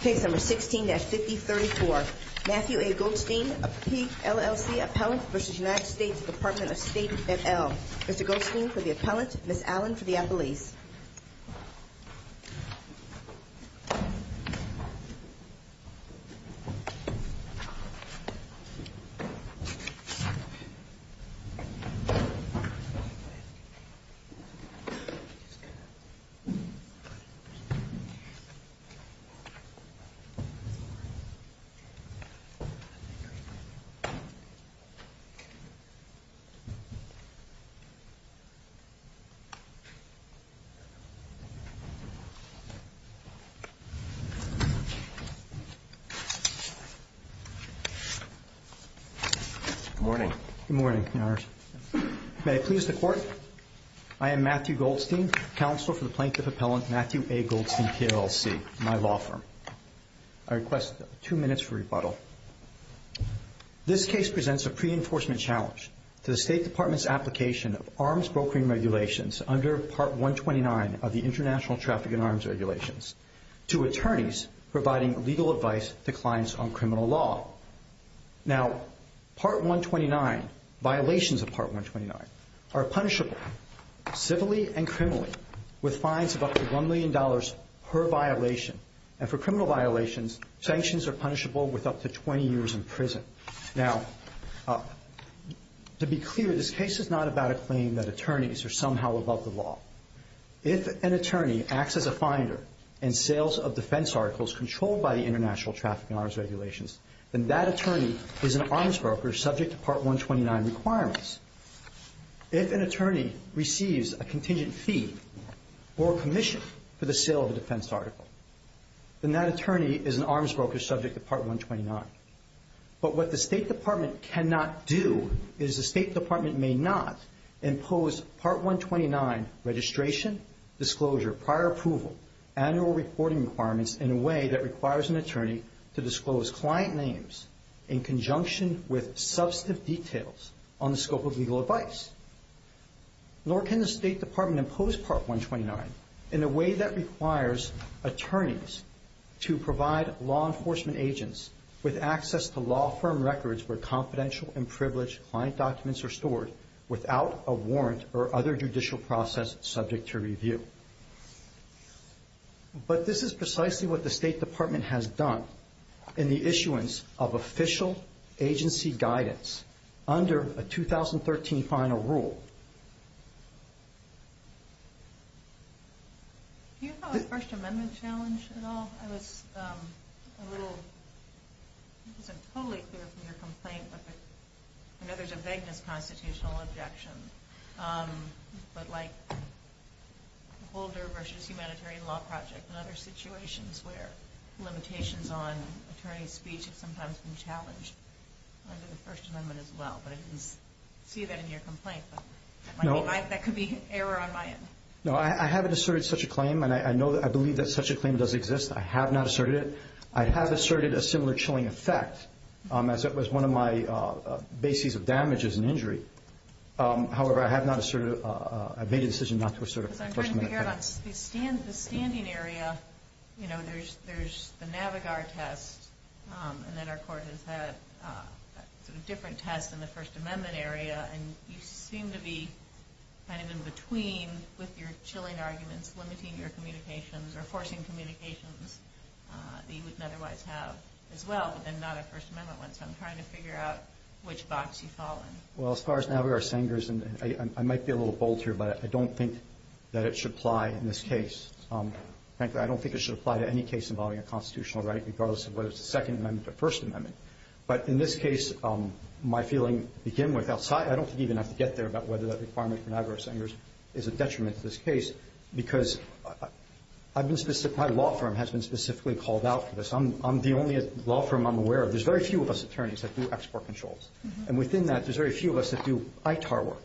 Case No. 16-5034. Matthew A. Goldstein, PLLC Appellant v. United States Department of State et al. Mr. Goldstein for the Appellant, Ms. Allen for the Appellees. Good morning. Good morning, Your Honors. May I please the Court? I am Matthew Goldstein, Counsel for the Plaintiff Appellant Matthew A. Goldstein, PLLC, my law firm. I request two minutes for rebuttal. This case presents a pre-enforcement challenge to the State Department's application of arms brokering regulations under Part 129 of the International Traffic and Arms Regulations to attorneys providing legal advice to clients on criminal law. Now, Part 129, violations of Part 129, are punishable civilly and criminally with fines of up to $1 million per violation. And for criminal violations, sanctions are punishable with up to 20 years in prison. Now, to be clear, this case is not about a claim that attorneys are somehow above the law. If an attorney acts as a finder in sales of defense articles controlled by the International Traffic and Arms Regulations, then that attorney is an arms broker subject to Part 129 requirements. If an attorney receives a contingent fee or commission for the sale of a defense article, then that attorney is an arms broker subject to Part 129. But what the State Department cannot do is the State Department may not impose Part 129 registration, disclosure, prior approval, annual reporting requirements in a way that requires an attorney to disclose client names in conjunction with substantive details on the scope of legal advice. Nor can the State Department impose Part 129 in a way that requires attorneys to provide law enforcement agents with access to law firm records where confidential and privileged client documents are stored without a warrant or other judicial process subject to review. But this is precisely what the State Department has done in the issuance of official agency guidance under a 2013 final rule. Do you have a First Amendment challenge at all? I wasn't totally clear from your complaint, but I know there's a vagueness constitutional objection, but like the Holder v. Humanitarian Law Project and other situations where limitations on attorney's speech have sometimes been I mean, that could be error on my end. No, I haven't asserted such a claim, and I believe that such a claim does exist. I have not asserted it. I have asserted a similar chilling effect as it was one of my bases of damages and injury. However, I have not asserted it. I've made a decision not to assert a First Amendment claim. So I'm trying to figure out on the standing area, you know, there's the Navigar test, and then our court has had sort of different tests in the First Amendment area, and you seem to be kind of in between with your chilling arguments, limiting your communications or forcing communications that you wouldn't otherwise have as well, but then not a First Amendment one. So I'm trying to figure out which box you fall in. Well, as far as Navigar, Sanger's, and I might be a little bold here, but I don't think that it should apply in this case. Frankly, I don't think it should apply to any case involving a constitutional right, regardless of whether it's a Second Amendment case or a First Amendment case. I don't even have to get there about whether that requirement for Navigar or Sanger's is a detriment to this case, because my law firm has been specifically called out for this. I'm the only law firm I'm aware of. There's very few of us attorneys that do export controls. And within that, there's very few of us that do ITAR work.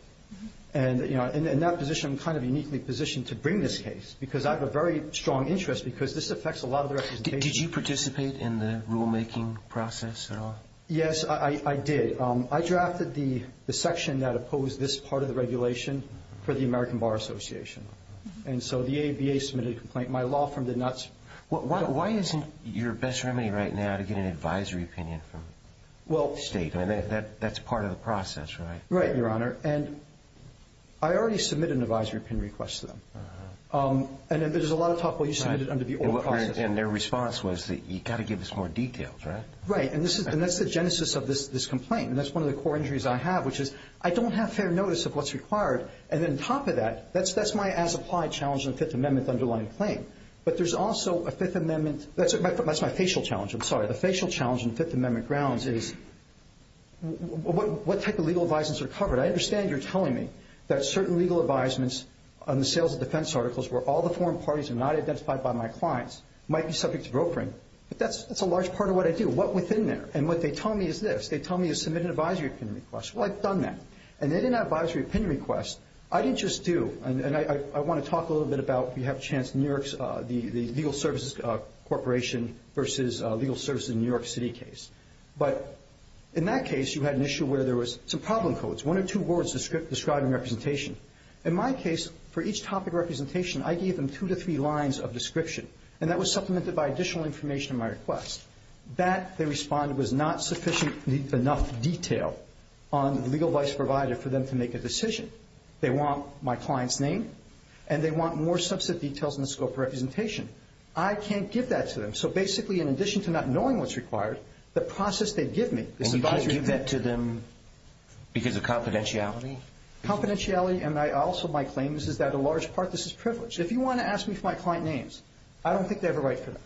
And, you know, in that position, I'm kind of uniquely positioned to bring this case, because I have a very strong interest because this affects a lot of the representation. Did you participate in the rulemaking process at all? Yes, I did. I drafted the section that opposed this part of the regulation for the American Bar Association. And so the ABA submitted a complaint. My law firm did not. Why isn't your best remedy right now to get an advisory opinion from the state? I mean, that's part of the process, right? Right, Your Honor. And I already submitted an advisory opinion request to them. And there's a lot of talk, well, you submitted it under the old process. And their response was that you've got to give us more details, right? Right. And that's the genesis of this complaint. And that's one of the core injuries I have, which is I don't have fair notice of what's required. And then on top of that, that's my as-applied challenge in the Fifth Amendment underlying claim. But there's also a Fifth Amendment – that's my facial challenge, I'm sorry. The facial challenge in Fifth Amendment grounds is what type of legal advisements are covered? I understand you're telling me that certain legal advisements on the sales and defense articles where all the foreign parties are not identified by my clients might be subject to brokering. But that's a large part of what I do. What within there? And what they tell me is this. They tell me to submit an advisory opinion request. Well, I've done that. And they didn't have an advisory opinion request. I didn't just do – and I want to talk a little bit about, if you have a chance, New York's Legal Services Corporation versus Legal Services in New York City case. But in that case, you had an issue where there was some problem codes, one or two words describing representation. In my case, for each topic of representation, I gave them two to three lines of description. And that was supplemented by additional information in my request. That, they responded, was not sufficient enough detail on the legal advice provided for them to make a decision. They want my client's name, and they want more subset details in the scope of representation. I can't give that to them. So basically, in addition to not knowing what's required, the process they give me is advisory opinion. Well, you give that to them because of confidentiality? Confidentiality and also my claim is that a large part of this is privilege. If you want to ask me for my client names, I don't think they have a right for them.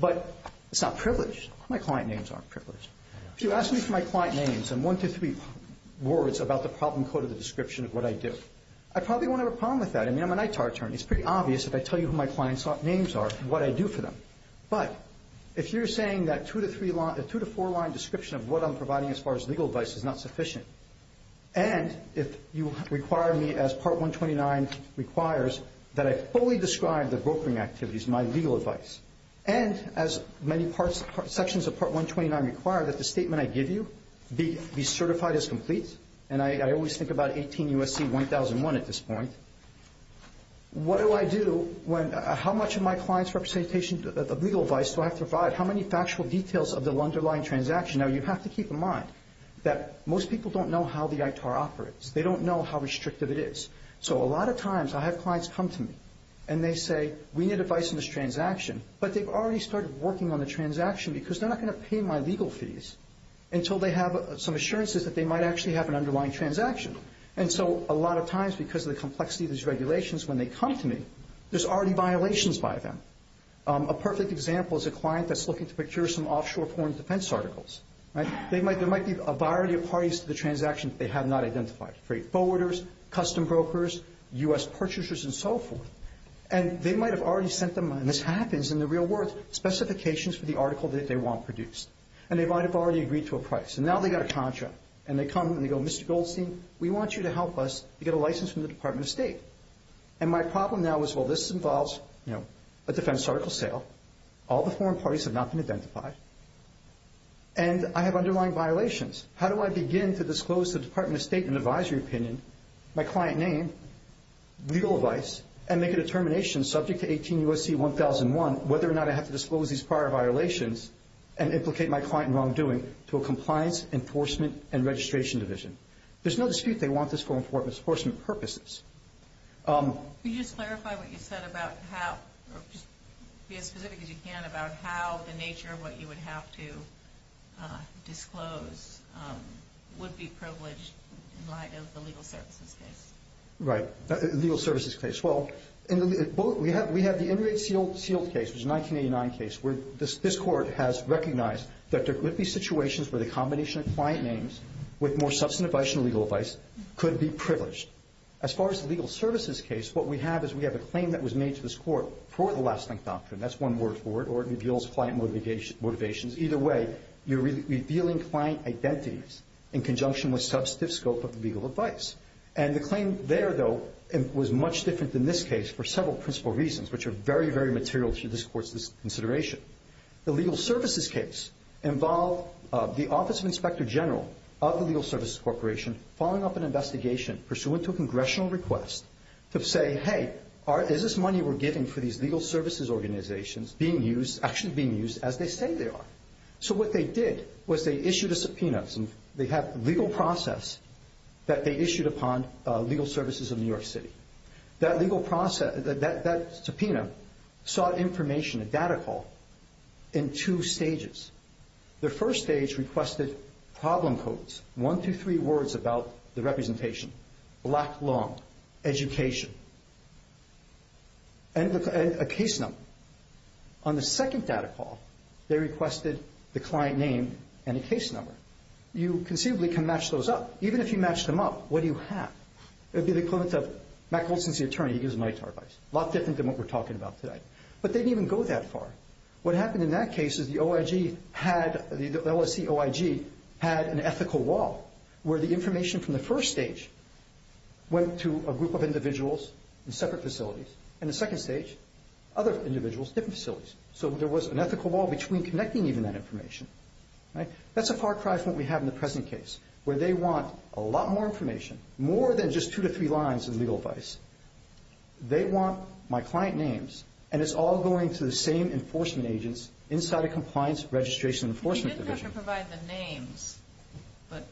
But it's not privilege. My client names aren't privilege. If you ask me for my client names and one to three words about the problem code or the description of what I do, I probably won't have a problem with that. I mean, I'm an ITAR attorney. It's pretty obvious if I tell you who my client's names are and what I do for them. But if you're saying that two to four line description of what I'm providing as far as legal advice is not sufficient, and if you require me, as Part 129 requires, that I fully describe the brokering activities, my legal advice, and as many sections of Part 129 require, that the statement I give you be certified as complete. And I always think about 18 U.S.C. 1001 at this point. What do I do? How much of my client's representation of legal advice do I have to provide? How many factual details of the underlying transaction? Now, you have to keep in mind that most people don't know how the ITAR operates. They don't know how restrictive it is. So a lot of times I have clients come to me, and they say, we need advice on this transaction, but they've already started working on the transaction because they're not going to pay my legal fees until they have some assurances that they might actually have an underlying transaction. And so a lot of times, because of the complexity of these regulations, when they come to me, there's already violations by them. A perfect example is a client that's looking to procure some offshore foreign defense articles. There might be a variety of parties to the transaction that they have not identified, freight forwarders, custom brokers, U.S. purchasers, and so forth. And they might have already sent them, and this happens in the real world, specifications for the article that they want produced. And they might have already agreed to a price. And now they've got a contract, and they come and they go, Mr. Goldstein, we want you to help us get a license from the Department of State. And my problem now is, well, this involves a defense article sale. All the foreign parties have not been identified. And I have underlying violations. How do I begin to disclose to the Department of State an advisory opinion, my client name, legal advice, and make a determination subject to 18 U.S.C. 1001 whether or not I have to disclose these prior violations and implicate my client in wrongdoing to a compliance, enforcement, and registration division? There's no dispute they want this for enforcement purposes. Could you just clarify what you said about how, or just be as specific as you can, about how the nature of what you would have to disclose would be privileged in light of the legal services case? Right, the legal services case. Well, we have the inmate sealed case, which is a 1989 case, where this court has recognized that there could be situations where the combination of client names with more substantive advice and legal advice could be privileged. As far as the legal services case, what we have is we have a claim that was made to this court for the lasting doctrine. That's one word for it, or it reveals client motivations. Either way, you're revealing client identities in conjunction with substantive scope of the legal advice. And the claim there, though, was much different than this case for several principal reasons, which are very, very material to this court's consideration. The legal services case involved the Office of Inspector General of the Legal Services Corporation following up an investigation pursuant to a congressional request to say, hey, is this money we're giving for these legal services organizations being used, actually being used as they say they are? So what they did was they issued a subpoena. They have legal process that they issued upon Legal Services of New York City. That legal process, that subpoena sought information, a data call, in two stages. The first stage requested problem codes, one through three words about the representation, black long, education, and a case number. On the second data call, they requested the client name and a case number. You conceivably can match those up. Even if you match them up, what do you have? It would be the equivalent of Mack Olson is the attorney. He gives an ITAR advice. A lot different than what we're talking about today. But they didn't even go that far. What happened in that case is the OIG had, the LSE OIG, had an ethical wall where the information from the first stage went to a group of individuals in separate facilities. In the second stage, other individuals, different facilities. So there was an ethical wall between connecting even that information. That's a far cry from what we have in the present case, where they want a lot more information, more than just two to three lines of legal advice. They want my client names, and it's all going to the same enforcement agents inside a compliance registration enforcement division. You didn't have to provide the names, but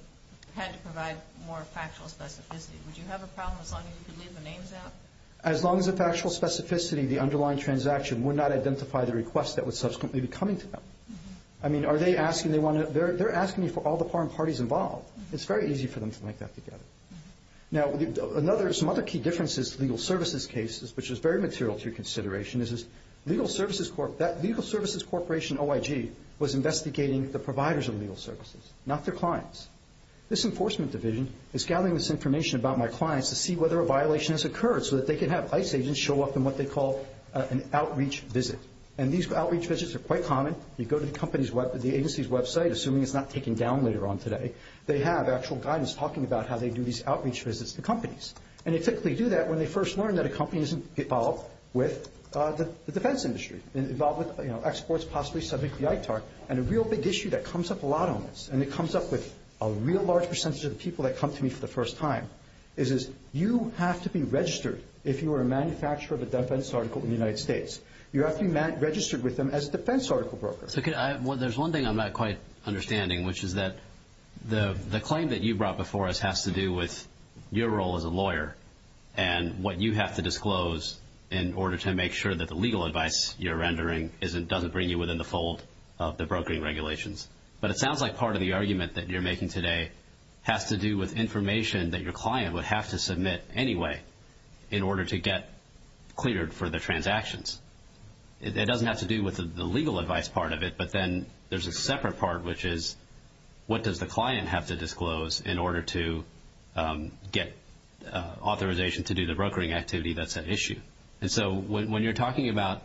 had to provide more factual specificity. Would you have a problem as long as you could leave the names out? As long as the factual specificity, the underlying transaction, would not identify the request that would subsequently be coming to them. I mean, are they asking, they're asking for all the foreign parties involved. It's very easy for them to link that together. Now, some other key differences to legal services cases, which is very material to your consideration, is that Legal Services Corporation OIG was investigating the providers of legal services, not their clients. This enforcement division is gathering this information about my clients to see whether a violation has occurred so that they can have ICE agents show up in what they call an outreach visit. And these outreach visits are quite common. You go to the agency's website, assuming it's not taken down later on today. They have actual guidance talking about how they do these outreach visits to companies. And they typically do that when they first learn that a company isn't involved with the defense industry, involved with exports possibly subject to ITAR. And a real big issue that comes up a lot on this, and it comes up with a real large percentage of the people that come to me for the first time, is you have to be registered if you are a manufacturer of a defense article in the United States. You have to be registered with them as a defense article broker. There's one thing I'm not quite understanding, which is that the claim that you brought before us has to do with your role as a lawyer and what you have to disclose in order to make sure that the legal advice you're rendering doesn't bring you within the fold of the brokering regulations. But it sounds like part of the argument that you're making today has to do with information that your client would have to submit anyway in order to get cleared for the transactions. It doesn't have to do with the legal advice part of it, but then there's a separate part, which is what does the client have to disclose in order to get authorization to do the brokering activity that's at issue. And so when you're talking about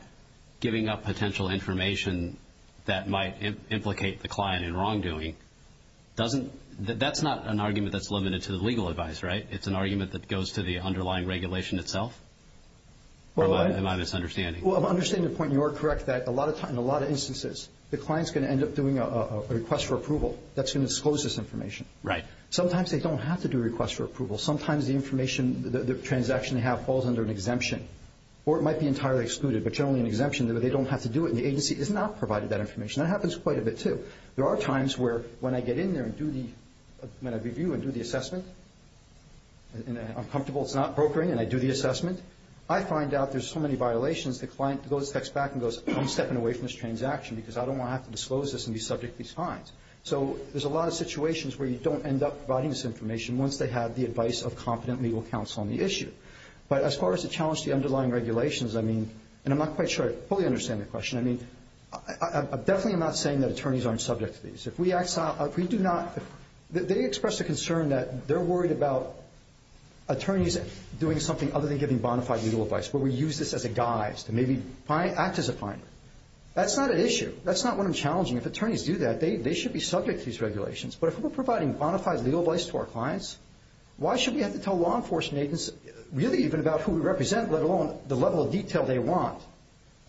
giving up potential information that might implicate the client in wrongdoing, that's not an argument that's limited to the legal advice, right? It's an argument that goes to the underlying regulation itself? Or am I misunderstanding? Well, I'm understanding the point. You are correct that in a lot of instances the client's going to end up doing a request for approval. That's going to disclose this information. Sometimes they don't have to do a request for approval. Sometimes the information, the transaction they have falls under an exemption or it might be entirely excluded, but generally an exemption. They don't have to do it, and the agency has not provided that information. That happens quite a bit, too. There are times where when I get in there and do the review and do the assessment and I'm comfortable it's not brokering and I do the assessment, I find out there's so many violations the client goes back and goes, I'm stepping away from this transaction because I don't want to have to disclose this and be subject to these fines. So there's a lot of situations where you don't end up providing this information once they have the advice of competent legal counsel on the issue. But as far as the challenge to the underlying regulations, I mean, and I'm not quite sure I fully understand the question. I mean, definitely I'm not saying that attorneys aren't subject to these. If we do not – they express the concern that they're worried about attorneys doing something other than giving bona fide legal advice, where we use this as a guise to maybe act as a fine. That's not an issue. That's not what I'm challenging. If attorneys do that, they should be subject to these regulations. But if we're providing bona fide legal advice to our clients, why should we have to tell law enforcement agents really even about who we represent, let alone the level of detail they want?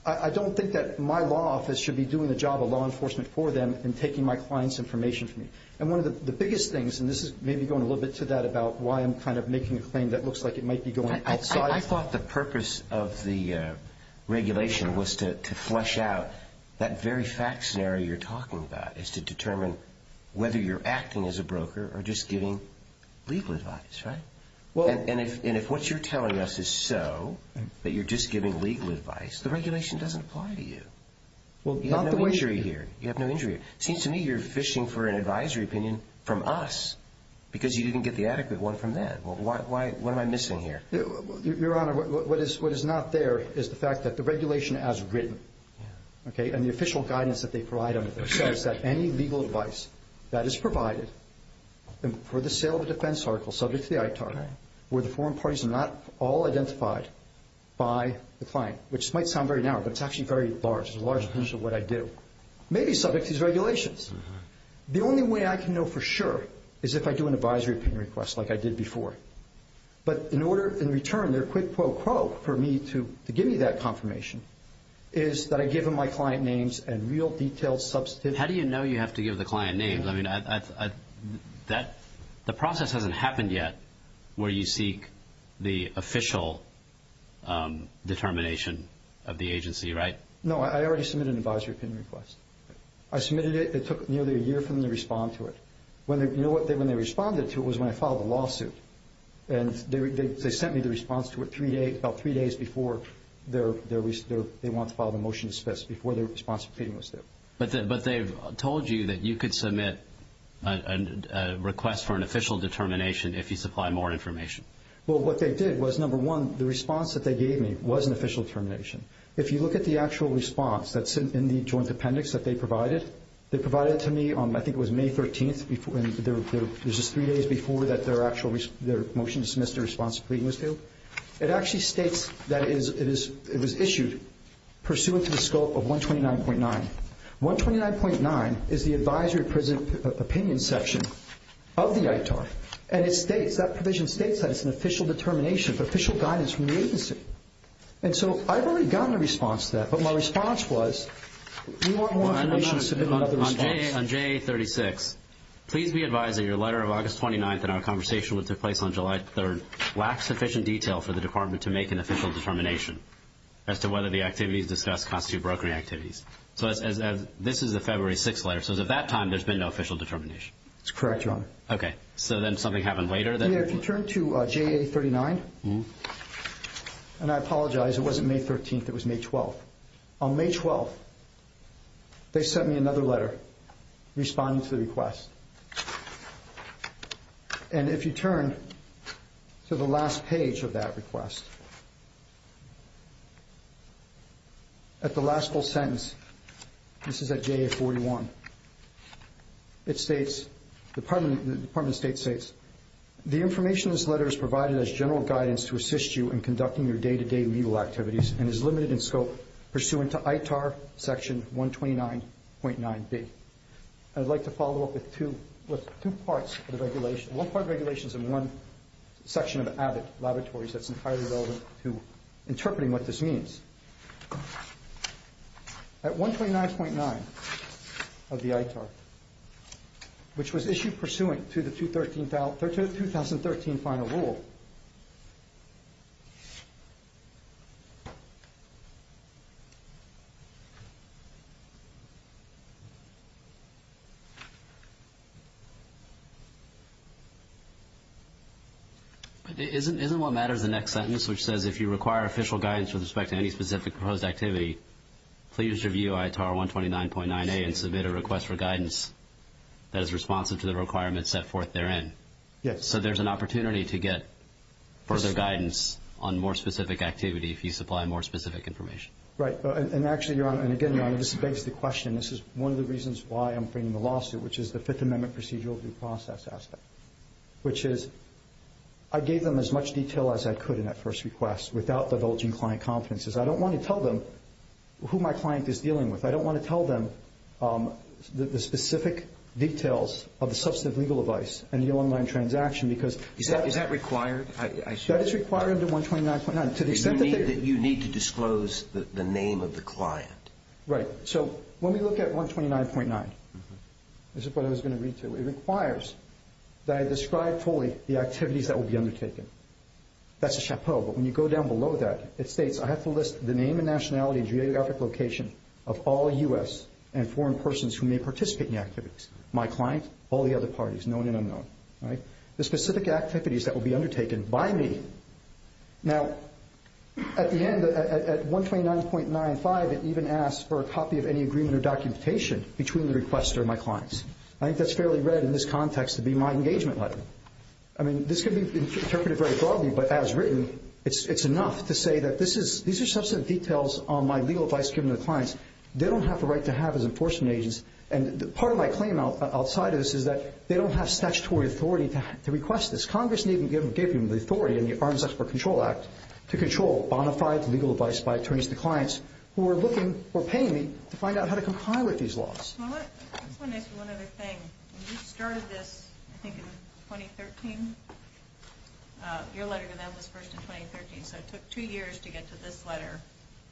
I don't think that my law office should be doing the job of law enforcement for them and taking my clients' information from me. And one of the biggest things, and this is maybe going a little bit to that about why I'm kind of making a claim that looks like it might be going outside. I thought the purpose of the regulation was to flesh out that very fact scenario you're talking about is to determine whether you're acting as a broker or just giving legal advice, right? And if what you're telling us is so, that you're just giving legal advice, the regulation doesn't apply to you. You have no injury here. You have no injury. It seems to me you're fishing for an advisory opinion from us because you didn't get the adequate one from them. What am I missing here? Your Honor, what is not there is the fact that the regulation as written, okay, and the official guidance that they provide under there says that any legal advice that is provided for the sale of a defense article subject to the ITAR, where the foreign parties are not all identified by the client, which might sound very narrow, but it's actually very large. It's a large portion of what I do, may be subject to these regulations. The only way I can know for sure is if I do an advisory opinion request like I did before. But in return, their quick pro quo for me to give me that confirmation is that I give them my client names and real detailed substitutions. How do you know you have to give the client names? I mean, the process hasn't happened yet where you seek the official determination of the agency, right? No. I already submitted an advisory opinion request. I submitted it. It took nearly a year for them to respond to it. You know what? When they responded to it was when I filed the lawsuit, and they sent me the response to it about three days before they wanted to file the motion, before their response for pleading was there. But they've told you that you could submit a request for an official determination if you supply more information. Well, what they did was, number one, the response that they gave me was an official determination. If you look at the actual response that's in the joint appendix that they provided, they provided it to me, I think it was May 13th, and it was just three days before their motion to submit the response to pleading was due. It actually states that it was issued pursuant to the scope of 129.9. 129.9 is the advisory opinion section of the ITAR, and that provision states that it's an official determination, official guidance from the agency. And so I've already gotten a response to that, but my response was, we want more information to submit another response. On JA36, please be advised that your letter of August 29th and our conversation that took place on July 3rd lack sufficient detail for the department to make an official determination as to whether the activities discussed constitute brokering activities. So this is a February 6th letter, so at that time there's been no official determination. That's correct, Your Honor. Okay. So then something happened later? Yeah, if you turn to JA39, and I apologize, it wasn't May 13th, it was May 12th. On May 12th, they sent me another letter responding to the request. And if you turn to the last page of that request, at the last full sentence, this is at JA41, it states, the Department of State states, the information in this letter is provided as general guidance to assist you in conducting your day-to-day legal activities and is limited in scope pursuant to ITAR section 129.9B. I'd like to follow up with two parts of the regulation. One part of the regulation is in one section of AVID Laboratories that's entirely relevant to interpreting what this means. At 129.9 of the ITAR, which was issued pursuant to the 2013 final rule. Isn't what matters the next sentence, which says, if you require official guidance with respect to any specific proposed activity, please review ITAR 129.9A and submit a request for guidance that is responsive to the requirements set forth therein. Yes. So there's an opportunity to get further guidance on more specific activity if you supply more specific information. Right. And actually, Your Honor, and again, Your Honor, this begs the question, this is one of the reasons why I'm framing the lawsuit, which is the Fifth Amendment procedural due process aspect, which is I gave them as much detail as I could in that first request without divulging client confidences. I don't want to tell them who my client is dealing with. I don't want to tell them the specific details of the substantive legal advice and the online transaction because... Is that required? That is required under 129.9 to the extent that... You need to disclose the name of the client. Right. So when we look at 129.9, this is what I was going to read to you. It requires that I describe fully the activities that will be undertaken. That's a chapeau, but when you go down below that, it states, I have to list the name and nationality and geographic location of all U.S. and foreign persons who may participate in the activities, my client, all the other parties, known and unknown. The specific activities that will be undertaken by me. Now, at the end, at 129.95, it even asks for a copy of any agreement or documentation between the requester and my clients. I think that's fairly read in this context to be my engagement letter. I mean, this could be interpreted very broadly, but as written, it's enough to say that these are substantive details on my legal advice given to clients. They don't have the right to have as enforcement agents, and part of my claim outside of this is that they don't have statutory authority to request this. Congress didn't even give them the authority in the Arms Export Control Act to control bona fide legal advice by attorneys to clients who are looking or paying me to find out how to comply with these laws. Ms. Smollett, I just want to ask you one other thing. You started this, I think, in 2013. Your letter to them was first in 2013, so it took two years to get to this letter,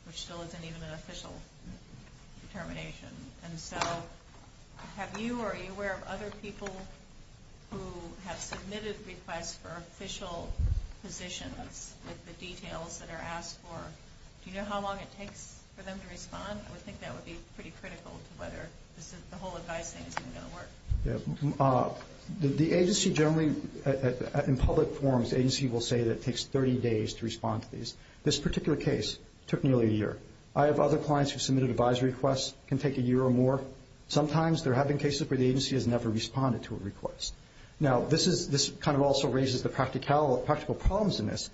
which still isn't even an official determination. And so have you or are you aware of other people who have submitted requests for official positions with the details that are asked for? Do you know how long it takes for them to respond? I would think that would be pretty critical to whether the whole advice thing is even going to work. The agency generally, in public forums, the agency will say that it takes 30 days to respond to these. This particular case took nearly a year. I have other clients who have submitted advisory requests. It can take a year or more. Sometimes there have been cases where the agency has never responded to a request. Now, this kind of also raises the practical problems in this.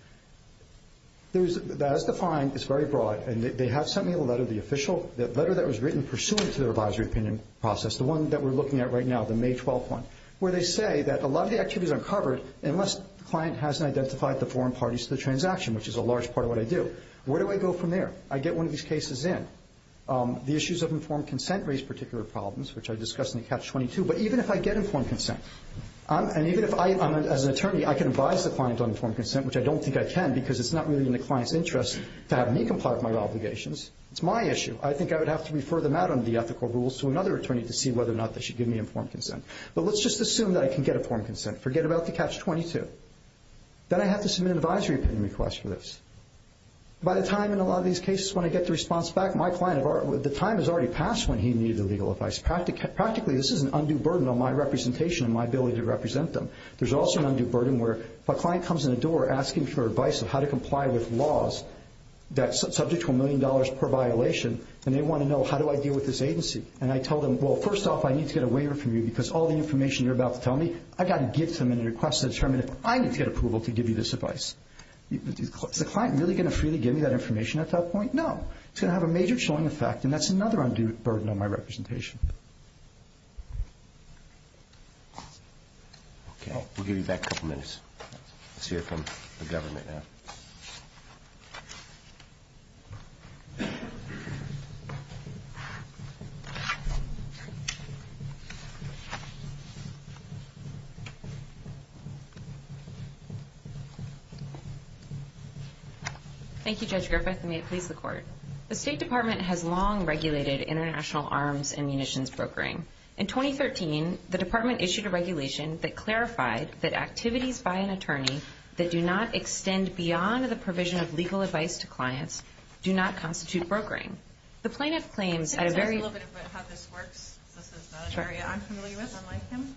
As defined, it's very broad, and they have sent me a letter, the official letter that was written pursuant to their advisory opinion process, the one that we're looking at right now, the May 12 one, where they say that a lot of the activities are covered unless the client hasn't identified the foreign parties to the transaction, which is a large part of what I do. Where do I go from there? I get one of these cases in. The issues of informed consent raise particular problems, which I discussed in the Catch-22. But even if I get informed consent, and even if I, as an attorney, I can advise the client on informed consent, which I don't think I can because it's not really in the client's interest to have me comply with my obligations. It's my issue. I think I would have to refer them out under the ethical rules to another attorney to see whether or not they should give me informed consent. But let's just assume that I can get informed consent. Forget about the Catch-22. Then I have to submit an advisory opinion request for this. By the time in a lot of these cases when I get the response back, the time has already passed when he needed the legal advice. Practically, this is an undue burden on my representation and my ability to represent them. There's also an undue burden where a client comes in the door asking for advice on how to comply with laws that's subject to a million dollars per violation, and they want to know how do I deal with this agency. And I tell them, well, first off, I need to get a waiver from you because all the information you're about to tell me, I've got to give to them in a request to determine if I need to get approval to give you this advice. Is the client really going to freely give me that information at that point? No. It's going to have a major showing effect, and that's another undue burden on my representation. Okay. We'll give you back a couple minutes. Let's hear from the government now. Thank you, Judge Griffith, and may it please the Court. The State Department has long regulated international arms and munitions brokering. In 2013, the Department issued a regulation that clarified that activities by an attorney that do not extend beyond the provision of legal advice to clients do not constitute brokering. The plaintiff claims at a very- Can you tell us a little bit about how this works? This is an area I'm familiar with, unlike him.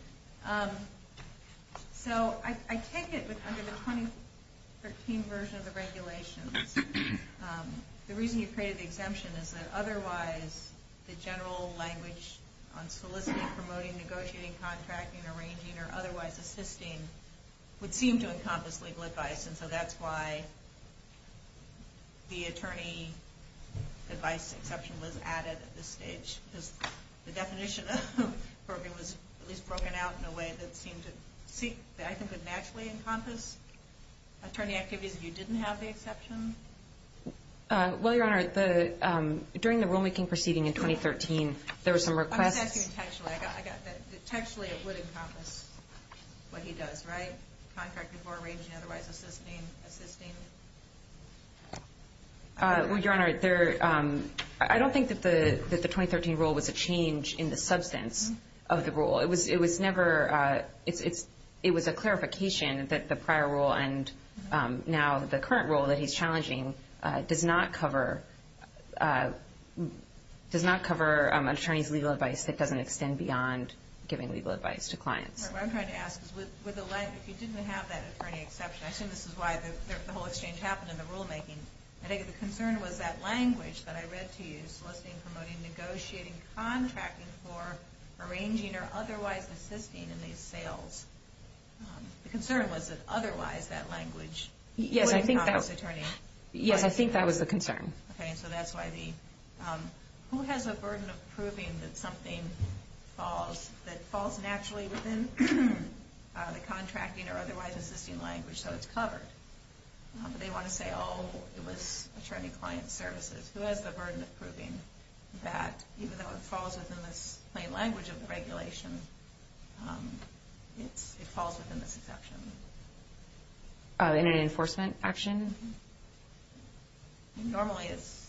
So I take it that under the 2013 version of the regulations, the reason you created the exemption is that otherwise the general language on soliciting, promoting, negotiating, contracting, arranging, or otherwise assisting would seem to encompass legal advice, and so that's why the attorney advice exception was added at this stage, because the definition of brokering was at least broken out in a way that seemed to, I think, would naturally encompass attorney activities if you didn't have the exception? Well, Your Honor, during the rulemaking proceeding in 2013, there were some requests- I'm just asking you textually. Textually it would encompass what he does, right? Contracting, arranging, otherwise assisting? Well, Your Honor, I don't think that the 2013 rule was a change in the substance of the rule. It was never-it was a clarification that the prior rule and now the current rule that he's challenging does not cover an attorney's legal advice that doesn't extend beyond giving legal advice to clients. What I'm trying to ask is if you didn't have that attorney exception, I assume this is why the whole exchange happened in the rulemaking. I think the concern was that language that I read to you, soliciting, promoting, negotiating, contracting for, arranging, or otherwise assisting in these sales, the concern was that otherwise that language would encompass attorney- Yes, I think that was the concern. Okay, so that's why the-who has a burden of proving that something falls, that falls naturally within the contracting or otherwise assisting language so it's covered? They want to say, oh, it was attorney-client services. Who has the burden of proving that even though it falls within this plain language of the regulation, it falls within this exception? In an enforcement action? Normally it's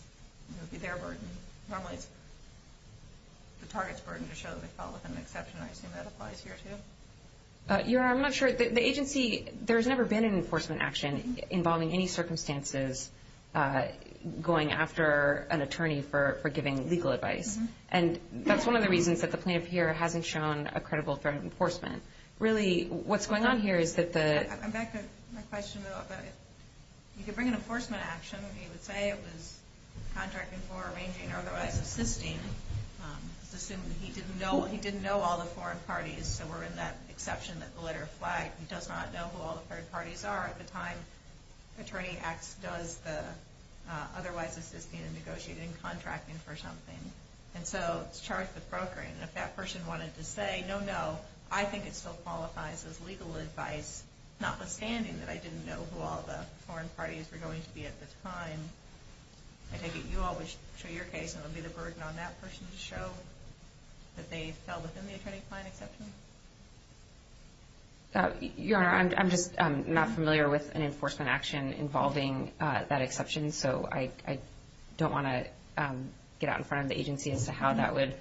their burden. Normally it's the target's burden to show that they fall within an exception. I assume that applies here too? Your Honor, I'm not sure. The agency-there's never been an enforcement action involving any circumstances going after an attorney for giving legal advice, and that's one of the reasons that the plaintiff here hasn't shown a credible threat of enforcement. Really, what's going on here is that the- I'm back to my question, though. You could bring an enforcement action. He would say it was contracting for, arranging, or otherwise assisting. He didn't know all the foreign parties, so we're in that exception that the letter flagged. He does not know who all the third parties are. At the time, Attorney X does the otherwise assisting and negotiating contracting for something, and so it's charged with brokering. If that person wanted to say, no, no, I think it still qualifies as legal advice, notwithstanding that I didn't know who all the foreign parties were going to be at the time. I take it you always show your case, and it would be the burden on that person to show that they fell within the attorney-client exception? Your Honor, I'm just not familiar with an enforcement action involving that exception, so I don't want to get out in front of the agency as to how that would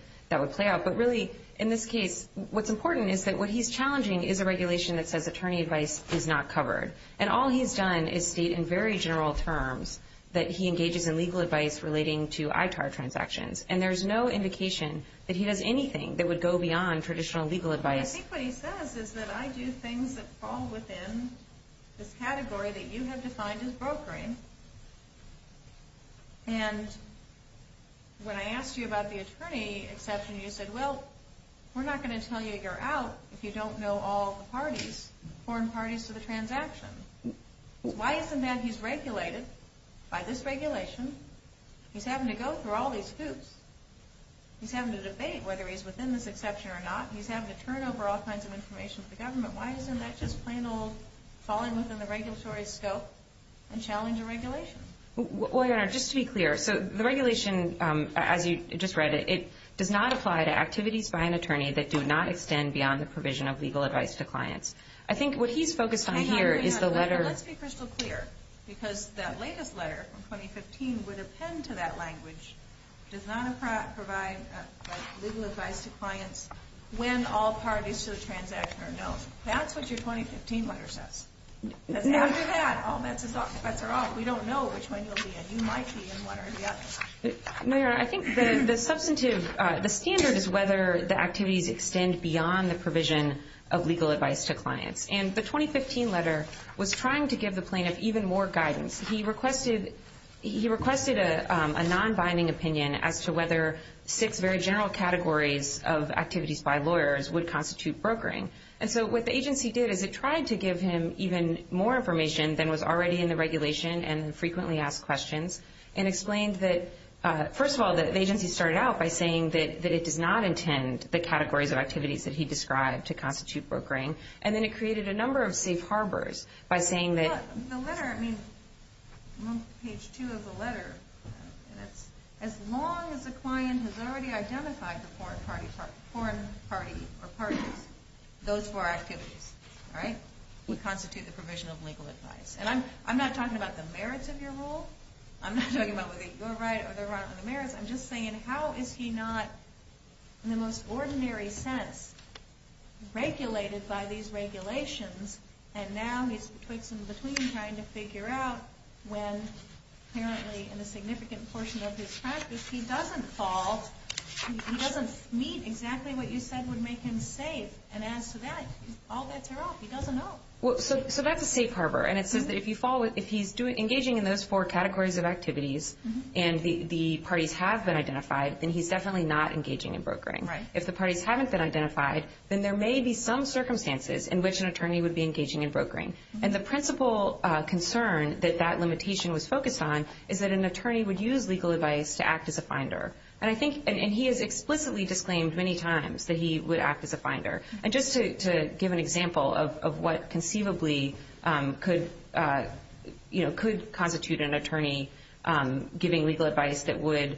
play out. But really, in this case, what's important is that what he's challenging is a regulation that says attorney advice is not covered, and all he's done is state in very general terms that he engages in legal advice relating to ITAR transactions, and there's no indication that he does anything that would go beyond traditional legal advice. I think what he says is that I do things that fall within this category that you have defined as brokering, and when I asked you about the attorney exception, you said, well, we're not going to tell you you're out if you don't know all the parties, foreign parties to the transaction. Why isn't that he's regulated by this regulation? He's having to go through all these hoops. He's having to debate whether he's within this exception or not. He's having to turn over all kinds of information to the government. Why isn't that just plain old falling within the regulatory scope and challenging regulation? Well, Your Honor, just to be clear, so the regulation, as you just read it, it does not apply to activities by an attorney that do not extend beyond the provision of legal advice to clients. I think what he's focused on here is the letter. Let's be crystal clear, because that latest letter from 2015 would append to that language, does not provide legal advice to clients when all parties to the transaction are known. That's what your 2015 letter says. After that, all bets are off. We don't know which one you'll be in. You might be in one or the other. No, Your Honor, I think the substantive, the standard is whether the activities extend beyond the provision of legal advice to clients. And the 2015 letter was trying to give the plaintiff even more guidance. He requested a non-binding opinion as to whether six very general categories of activities by lawyers would constitute brokering. And so what the agency did is it tried to give him even more information than was already in the regulation and frequently asked questions and explained that, first of all, the agency started out by saying that it does not intend the categories of activities that he described to constitute brokering. And then it created a number of safe harbors by saying that – Well, the letter, I mean, page two of the letter, and it's as long as the client has already identified the foreign party or parties, those four activities, all right, would constitute the provision of legal advice. And I'm not talking about the merits of your rule. I'm not talking about whether you're right or they're wrong on the merits. I'm just saying how is he not, in the most ordinary sense, regulated by these regulations, and now he's in between trying to figure out when, apparently, in a significant portion of his practice, he doesn't fall, he doesn't meet exactly what you said would make him safe. And as to that, all bets are off. He doesn't know. So that's a safe harbor. And it says that if he's engaging in those four categories of activities and the parties have been identified, then he's definitely not engaging in brokering. Right. If the parties haven't been identified, then there may be some circumstances in which an attorney would be engaging in brokering. And the principal concern that that limitation was focused on is that an attorney would use legal advice to act as a finder. And I think – and he has explicitly disclaimed many times that he would act as a finder. And just to give an example of what conceivably could constitute an attorney giving legal advice that would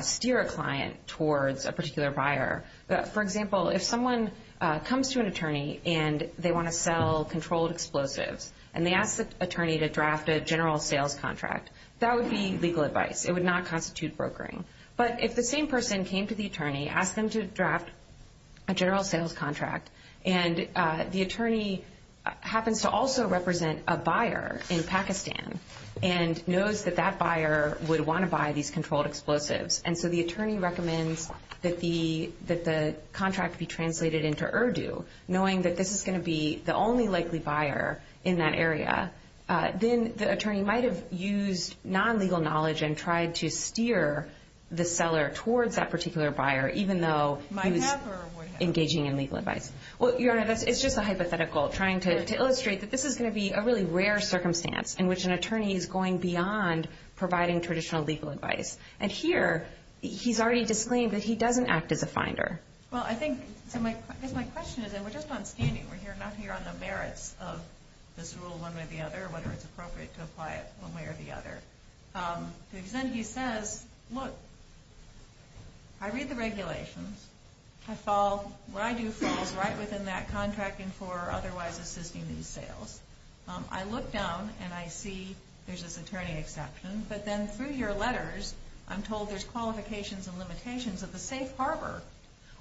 steer a client towards a particular buyer. For example, if someone comes to an attorney and they want to sell controlled explosives and they ask the attorney to draft a general sales contract, that would be legal advice. It would not constitute brokering. But if the same person came to the attorney, asked them to draft a general sales contract, and the attorney happens to also represent a buyer in Pakistan and knows that that buyer would want to buy these controlled explosives, and so the attorney recommends that the contract be translated into Urdu, knowing that this is going to be the only likely buyer in that area, then the attorney might have used non-legal knowledge and tried to steer the seller towards that particular buyer, even though he was engaging in legal advice. Well, Your Honor, it's just a hypothetical, trying to illustrate that this is going to be a really rare circumstance in which an attorney is going beyond providing traditional legal advice. And here, he's already disclaimed that he doesn't act as a finder. Well, I think, because my question is, and we're just not standing, we're not here on the merits of this rule one way or the other, or whether it's appropriate to apply it one way or the other. Because then he says, look, I read the regulations, what I do falls right within that contracting for otherwise assisting these sales. I look down and I see there's this attorney exception, but then through your letters, I'm told there's qualifications and limitations of the safe harbor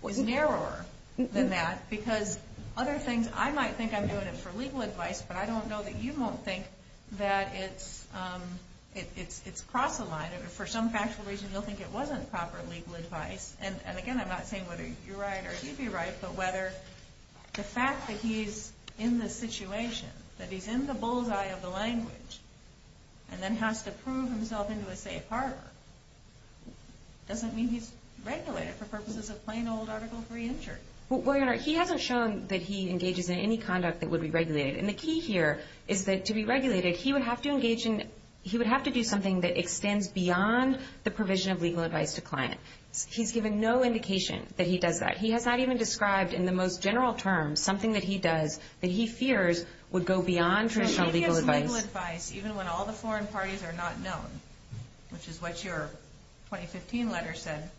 was narrower than that. Because other things, I might think I'm doing it for legal advice, but I don't know that you won't think that it's cross a line. For some factual reason, you'll think it wasn't proper legal advice. And again, I'm not saying whether you're right or he'd be right, but whether the fact that he's in this situation, that he's in the bullseye of the language, and then has to prove himself into a safe harbor, doesn't mean he's regulated for purposes of plain old Article 3 injury. Well, Your Honor, he hasn't shown that he engages in any conduct that would be regulated. And the key here is that to be regulated, he would have to engage in, he would have to do something that extends beyond the provision of legal advice to client. He's given no indication that he does that. He has not even described in the most general terms something that he does that he fears would go beyond traditional legal advice. He gives legal advice even when all the foreign parties are not known, which is what your 2015 letter said,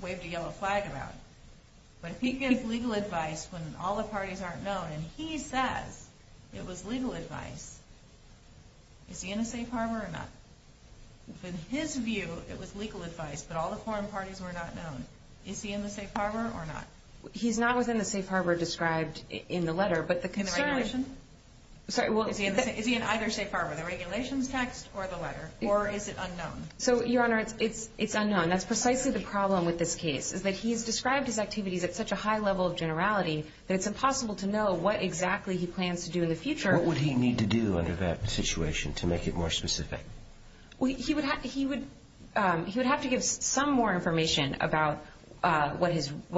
waved a yellow flag about. But he gives legal advice when all the parties aren't known, and he says it was legal advice. Is he in a safe harbor or not? In his view, it was legal advice, but all the foreign parties were not known. Is he in the safe harbor or not? He's not within the safe harbor described in the letter, but the concern is… Is he in either safe harbor, the regulations text or the letter, or is it unknown? So, Your Honor, it's unknown. That's precisely the problem with this case, is that he has described his activities at such a high level of generality that it's impossible to know what exactly he plans to do in the future. What would he need to do under that situation to make it more specific? He would have to give some more information about what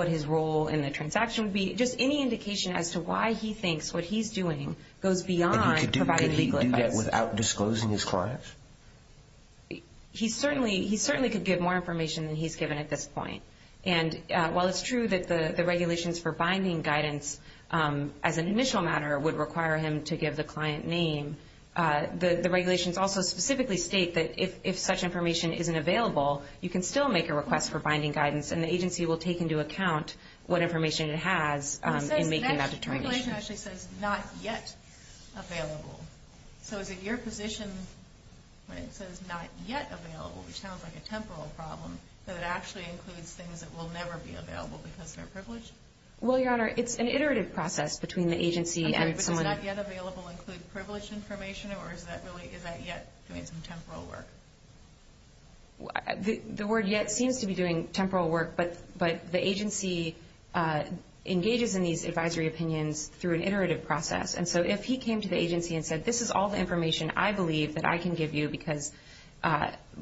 his role in the transaction would be. Just any indication as to why he thinks what he's doing goes beyond providing legal advice. Could he do that without disclosing his client? He certainly could give more information than he's given at this point. And while it's true that the regulations for binding guidance, as an initial matter, would require him to give the client name, the regulations also specifically state that if such information isn't available, you can still make a request for binding guidance, and the agency will take into account what information it has in making that determination. The regulation actually says not yet available. So is it your position when it says not yet available, which sounds like a temporal problem, that it actually includes things that will never be available because they're privileged? Well, Your Honor, it's an iterative process between the agency and someone… Okay, but does not yet available include privileged information, or is that yet doing some temporal work? The word yet seems to be doing temporal work, but the agency engages in these advisory opinions through an iterative process. And so if he came to the agency and said, this is all the information I believe that I can give you because,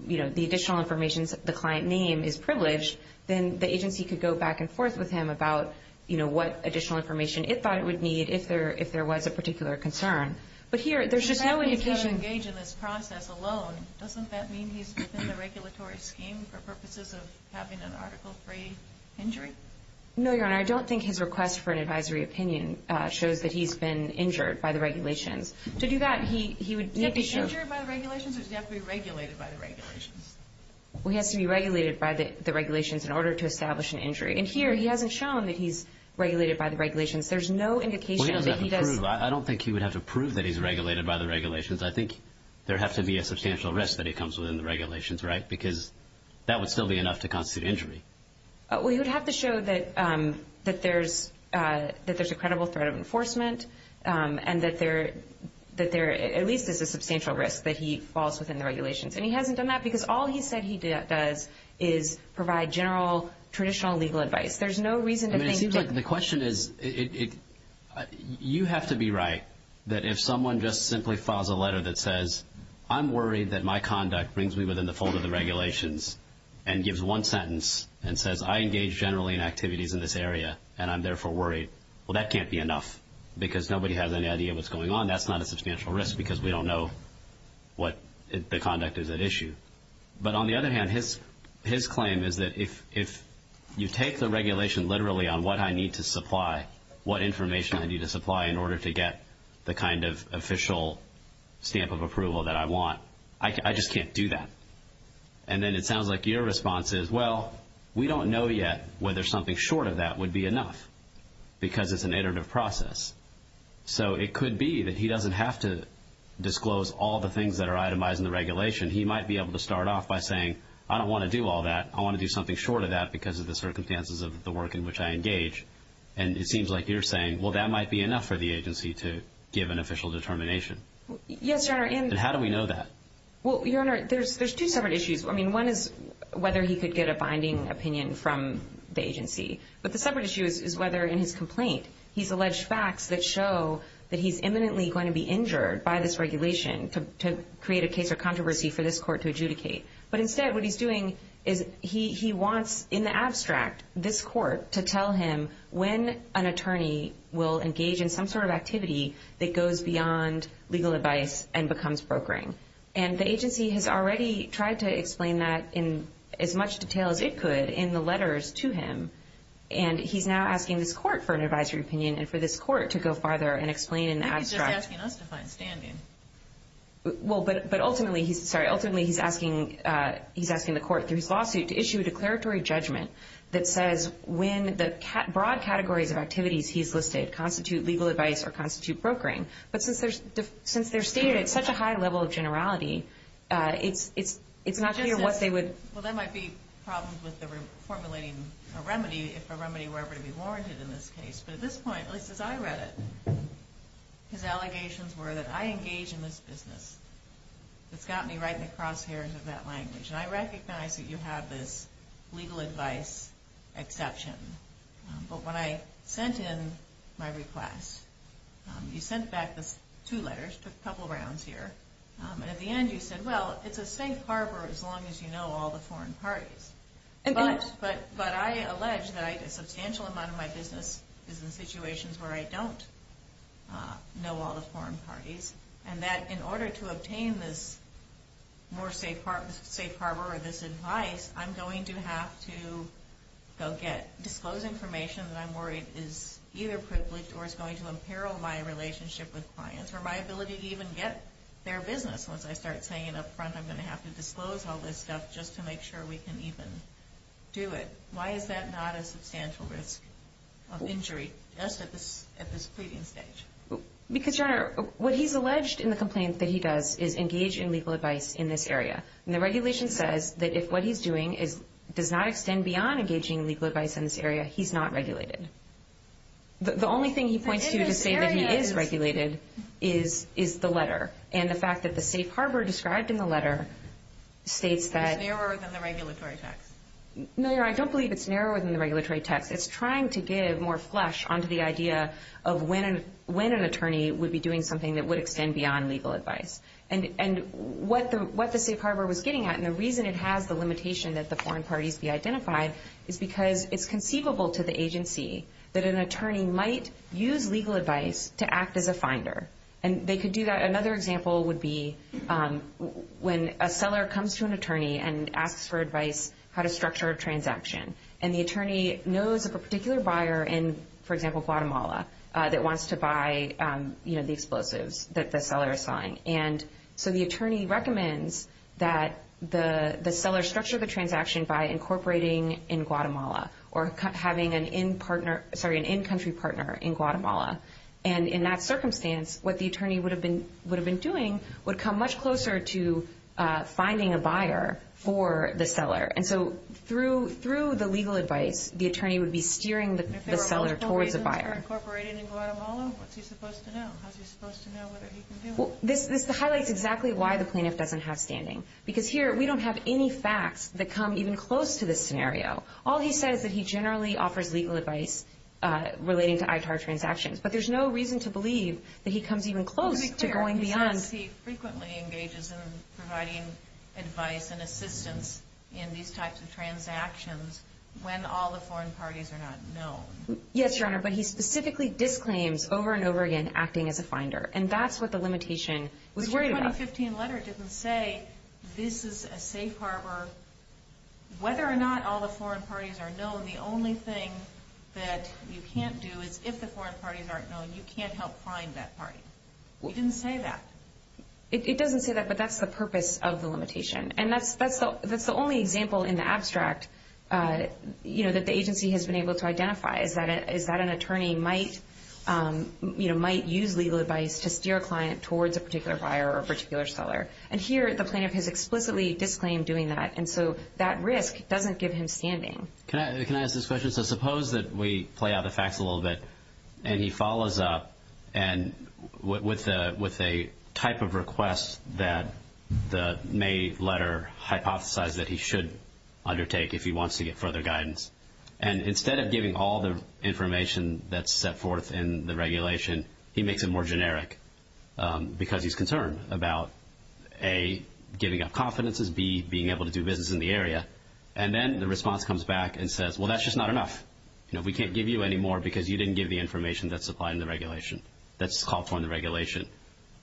you know, the additional information, the client name is privileged, then the agency could go back and forth with him about, you know, what additional information it thought it would need if there was a particular concern. But here, there's just no indication… If he happens to engage in this process alone, doesn't that mean he's within the regulatory scheme for purposes of having an article-free injury? No, Your Honor. I don't think his request for an advisory opinion shows that he's been injured by the regulations. To do that, he would need to show… Did he have to be injured by the regulations, or did he have to be regulated by the regulations? Well, he has to be regulated by the regulations in order to establish an injury. And here, he hasn't shown that he's regulated by the regulations. There's no indication that he does… I don't think he would have to prove that he's regulated by the regulations. I think there would have to be a substantial risk that he comes within the regulations, right? Because that would still be enough to constitute injury. Well, he would have to show that there's a credible threat of enforcement and that there at least is a substantial risk that he falls within the regulations. And he hasn't done that because all he said he does is provide general traditional legal advice. There's no reason to think that… He might be right that if someone just simply files a letter that says, I'm worried that my conduct brings me within the fold of the regulations and gives one sentence and says, I engage generally in activities in this area and I'm therefore worried, well, that can't be enough because nobody has any idea what's going on. That's not a substantial risk because we don't know what the conduct is at issue. But on the other hand, his claim is that if you take the regulation literally on what I need to supply, what information I need to supply in order to get the kind of official stamp of approval that I want, I just can't do that. And then it sounds like your response is, well, we don't know yet whether something short of that would be enough because it's an iterative process. So it could be that he doesn't have to disclose all the things that are itemized in the regulation. He might be able to start off by saying, I don't want to do all that. I want to do something short of that because of the circumstances of the work in which I engage. And it seems like you're saying, well, that might be enough for the agency to give an official determination. Yes, Your Honor. And how do we know that? Well, Your Honor, there's two separate issues. I mean, one is whether he could get a binding opinion from the agency. But the separate issue is whether in his complaint he's alleged facts that show that he's imminently going to be injured by this regulation to create a case or controversy for this court to adjudicate. But instead what he's doing is he wants, in the abstract, this court to tell him when an attorney will engage in some sort of activity that goes beyond legal advice and becomes brokering. And the agency has already tried to explain that in as much detail as it could in the letters to him. And he's now asking this court for an advisory opinion and for this court to go farther and explain in the abstract. I think he's just asking us to find standing. Well, but ultimately he's asking the court through his lawsuit to issue a declaratory judgment that says when the broad categories of activities he's listed constitute legal advice or constitute brokering. But since they're stated at such a high level of generality, it's not clear what they would- Well, there might be problems with formulating a remedy if a remedy were ever to be warranted in this case. But at this point, at least as I read it, his allegations were that I engage in this business. It's got me right in the crosshairs of that language. And I recognize that you have this legal advice exception. But when I sent in my request, you sent back the two letters, took a couple rounds here. And at the end you said, well, it's a safe harbor as long as you know all the foreign parties. But I allege that a substantial amount of my business is in situations where I don't know all the foreign parties. And that in order to obtain this more safe harbor or this advice, I'm going to have to go get- disclose information that I'm worried is either privileged or is going to imperil my relationship with clients or my ability to even get their business. Once I start saying it up front, I'm going to have to disclose all this stuff just to make sure we can even do it. Why is that not a substantial risk of injury just at this pleading stage? Because, Your Honor, what he's alleged in the complaint that he does is engage in legal advice in this area. And the regulation says that if what he's doing does not extend beyond engaging legal advice in this area, he's not regulated. The only thing he points to to say that he is regulated is the letter. And the fact that the safe harbor described in the letter states that- It's narrower than the regulatory text. No, Your Honor, I don't believe it's narrower than the regulatory text. It's trying to give more flesh onto the idea of when an attorney would be doing something that would extend beyond legal advice. And what the safe harbor was getting at, and the reason it has the limitation that the foreign parties be identified, is because it's conceivable to the agency that an attorney might use legal advice to act as a finder. And they could do that. Another example would be when a seller comes to an attorney and asks for advice how to structure a transaction. And the attorney knows of a particular buyer in, for example, Guatemala, that wants to buy the explosives that the seller is selling. And so the attorney recommends that the seller structure the transaction by incorporating in Guatemala or having an in-country partner in Guatemala. And in that circumstance, what the attorney would have been doing would come much closer to finding a buyer for the seller. And so through the legal advice, the attorney would be steering the seller towards a buyer. If there were multiple reasons for incorporating in Guatemala, what's he supposed to know? How's he supposed to know whether he can do it? This highlights exactly why the plaintiff doesn't have standing. Because here, we don't have any facts that come even close to this scenario. All he says that he generally offers legal advice relating to ITAR transactions. But there's no reason to believe that he comes even close to going beyond. Let me be clear. He says he frequently engages in providing advice and assistance in these types of transactions when all the foreign parties are not known. Yes, Your Honor, but he specifically disclaims over and over again acting as a finder. And that's what the limitation was worried about. But your 2015 letter didn't say this is a safe harbor. Whether or not all the foreign parties are known, the only thing that you can't do is if the foreign parties aren't known, you can't help find that party. It didn't say that. It doesn't say that, but that's the purpose of the limitation. And that's the only example in the abstract that the agency has been able to identify, is that an attorney might use legal advice to steer a client towards a particular buyer or a particular seller. And here, the plaintiff has explicitly disclaimed doing that. And so that risk doesn't give him standing. Can I ask this question? So suppose that we play out the facts a little bit and he follows up with a type of request that the May letter hypothesized that he should undertake if he wants to get further guidance. And instead of giving all the information that's set forth in the regulation, he makes it more generic because he's concerned about, A, giving up confidences, B, being able to do business in the area. And then the response comes back and says, well, that's just not enough. We can't give you any more because you didn't give the information that's supplied in the regulation, that's called for in the regulation.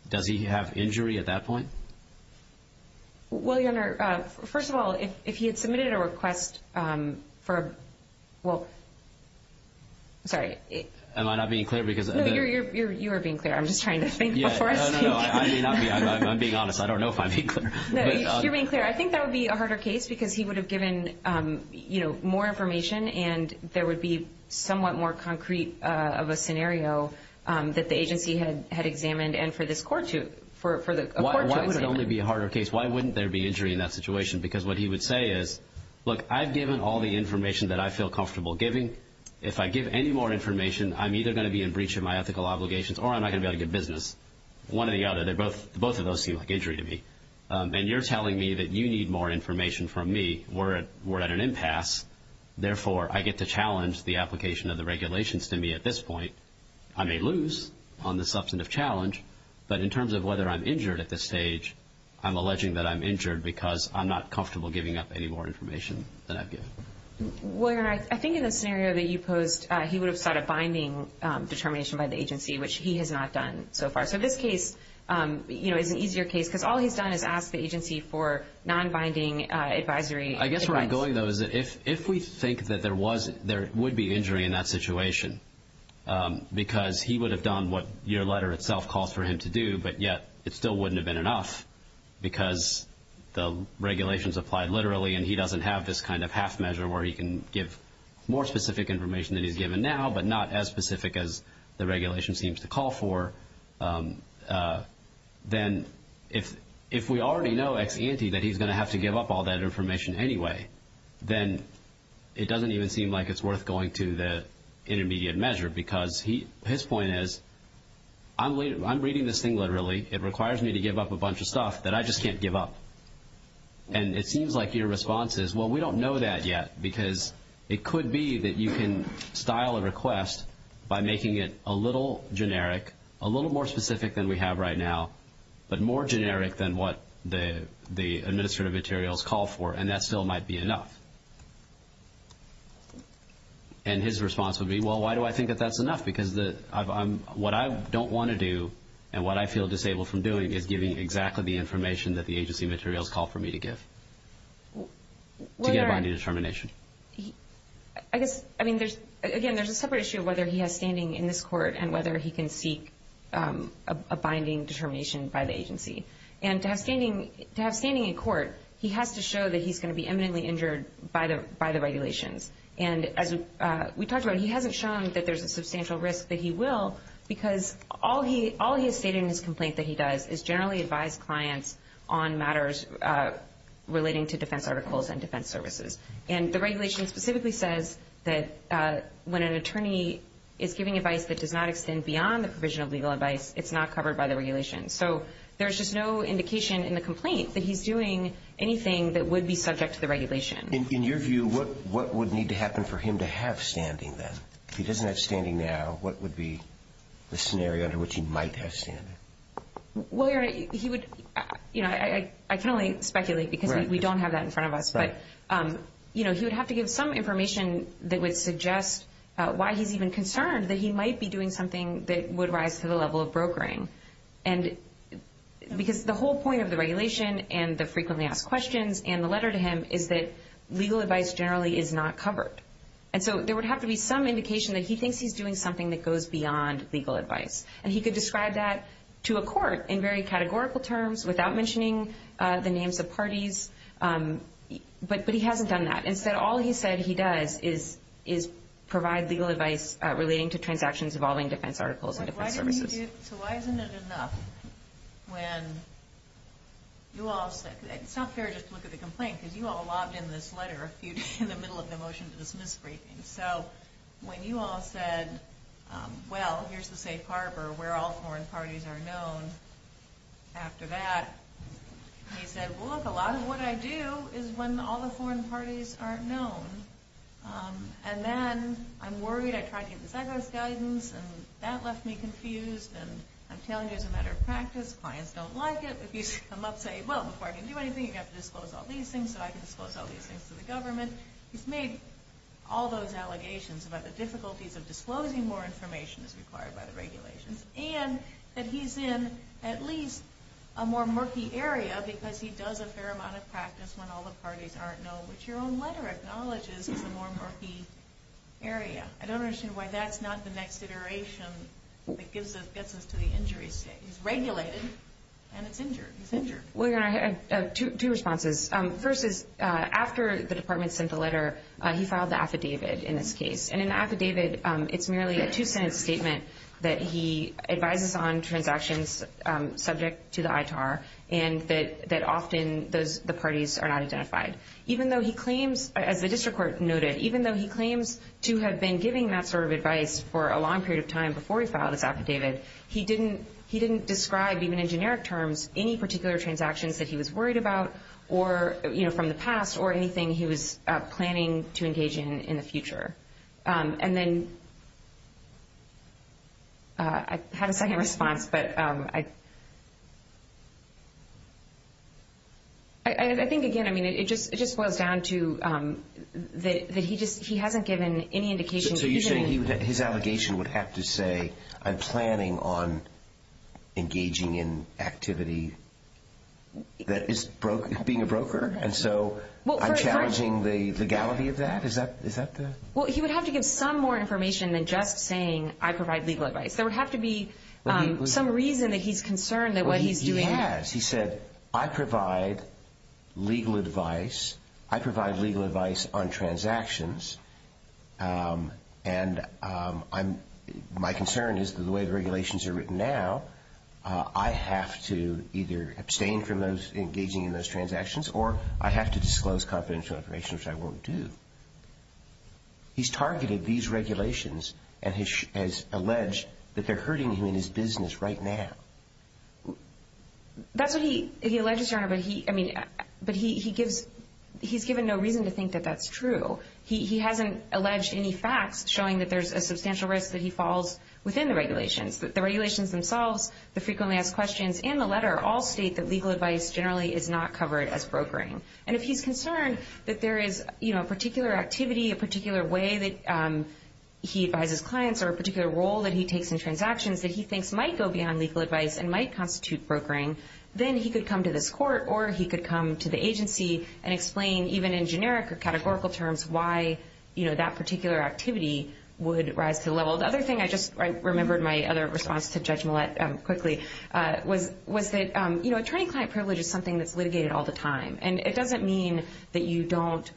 Does he have injury at that point? Well, your Honor, first of all, if he had submitted a request for, well, sorry. Am I not being clear? No, you are being clear. I'm just trying to think before I speak. I'm being honest. I don't know if I'm being clear. No, you're being clear. I think that would be a harder case because he would have given more information and there would be somewhat more concrete of a scenario that the agency had examined and for the court to examine. Why would it only be a harder case? Why wouldn't there be injury in that situation? Because what he would say is, look, I've given all the information that I feel comfortable giving. If I give any more information, I'm either going to be in breach of my ethical obligations or I'm not going to be able to get business. One or the other. Both of those seem like injury to me. And you're telling me that you need more information from me. We're at an impasse. Therefore, I get to challenge the application of the regulations to me at this point. I may lose on the substantive challenge, but in terms of whether I'm injured at this stage, I'm alleging that I'm injured because I'm not comfortable giving up any more information than I've given. Well, Your Honor, I think in the scenario that you posed, he would have sought a binding determination by the agency, which he has not done so far. So this case is an easier case because all he's done is ask the agency for non-binding advisory. I guess where I'm going, though, is that if we think that there would be injury in that situation because he would have done what your letter itself calls for him to do, but yet it still wouldn't have been enough because the regulations applied literally and he doesn't have this kind of half measure where he can give more specific information than he's given now but not as specific as the regulation seems to call for, then if we already know ex ante that he's going to have to give up all that information anyway, then it doesn't even seem like it's worth going to the intermediate measure because his point is, I'm reading this thing literally. It requires me to give up a bunch of stuff that I just can't give up. And it seems like your response is, well, we don't know that yet because it could be that you can style a request by making it a little generic, a little more specific than we have right now, but more generic than what the administrative materials call for, and that still might be enough. And his response would be, well, why do I think that that's enough? Because what I don't want to do and what I feel disabled from doing is giving exactly the information that the agency materials call for me to give to get a binding determination. Again, there's a separate issue of whether he has standing in this court and whether he can seek a binding determination by the agency. And to have standing in court, he has to show that he's going to be eminently injured by the regulations. And as we talked about, he hasn't shown that there's a substantial risk that he will because all he has stated in his complaint that he does is generally advise clients on matters relating to defense articles and defense services. And the regulation specifically says that when an attorney is giving advice that does not extend beyond the provision of legal advice, it's not covered by the regulations. So there's just no indication in the complaint that he's doing anything that would be subject to the regulation. In your view, what would need to happen for him to have standing then? If he doesn't have standing now, what would be the scenario under which he might have standing? Well, Your Honor, I can only speculate because we don't have that in front of us. But he would have to give some information that would suggest why he's even concerned that he might be doing something that would rise to the level of brokering. Because the whole point of the regulation and the frequently asked questions and the letter to him is that legal advice generally is not covered. And so there would have to be some indication that he thinks he's doing something that goes beyond legal advice. And he could describe that to a court in very categorical terms without mentioning the names of parties. But he hasn't done that. Instead, all he said he does is provide legal advice relating to transactions involving defense articles and defense services. So why isn't it enough when you all said it's not fair just to look at the complaint because you all lobbed in this letter a few days in the middle of the motion to dismiss briefings. So when you all said, well, here's the safe harbor where all foreign parties are known, after that he said, well, look, a lot of what I do is when all the foreign parties aren't known. And then I'm worried I tried to get the Zagos guidance and that left me confused. And I'm telling you it's a matter of practice. Clients don't like it. If you come up and say, well, before I can do anything, you have to disclose all these things, so I can disclose all these things to the government. He's made all those allegations about the difficulties of disclosing more information as required by the regulations and that he's in at least a more murky area because he does a fair amount of practice when all the parties aren't known, which your own letter acknowledges is a more murky area. I don't understand why that's not the next iteration that gets us to the injury state. He's regulated and it's injured. He's injured. Well, your Honor, I have two responses. First is after the department sent the letter, he filed the affidavit in this case. And in the affidavit, it's merely a two-sentence statement that he advises on transactions subject to the ITAR and that often the parties are not identified. Even though he claims, as the district court noted, even though he claims to have been giving that sort of advice for a long period of time before he filed this affidavit, he didn't describe, even in generic terms, any particular transactions that he was worried about from the past or anything he was planning to engage in in the future. And then I have a second response, but I think, again, it just boils down to that he hasn't given any indication. So you're saying his allegation would have to say, I'm planning on engaging in activity that is being a broker, and so I'm challenging the legality of that? Is that the...? Well, he would have to give some more information than just saying, I provide legal advice. There would have to be some reason that he's concerned that what he's doing... And my concern is that the way the regulations are written now, I have to either abstain from engaging in those transactions or I have to disclose confidential information, which I won't do. He's targeted these regulations and has alleged that they're hurting him in his business right now. That's what he alleges, Your Honor, but he's given no reason to think that that's true. He hasn't alleged any facts showing that there's a substantial risk that he falls within the regulations, that the regulations themselves, the frequently asked questions, and the letter all state that legal advice generally is not covered as brokering. And if he's concerned that there is a particular activity, a particular way that he advises clients or a particular role that he takes in transactions that he thinks might go beyond legal advice and might constitute brokering, then he could come to this court or he could come to the agency and explain, even in generic or categorical terms, why that particular activity would rise to the level. The other thing, I just remembered my other response to Judge Millett quickly, was that attorney-client privilege is something that's litigated all the time, and it doesn't mean that you don't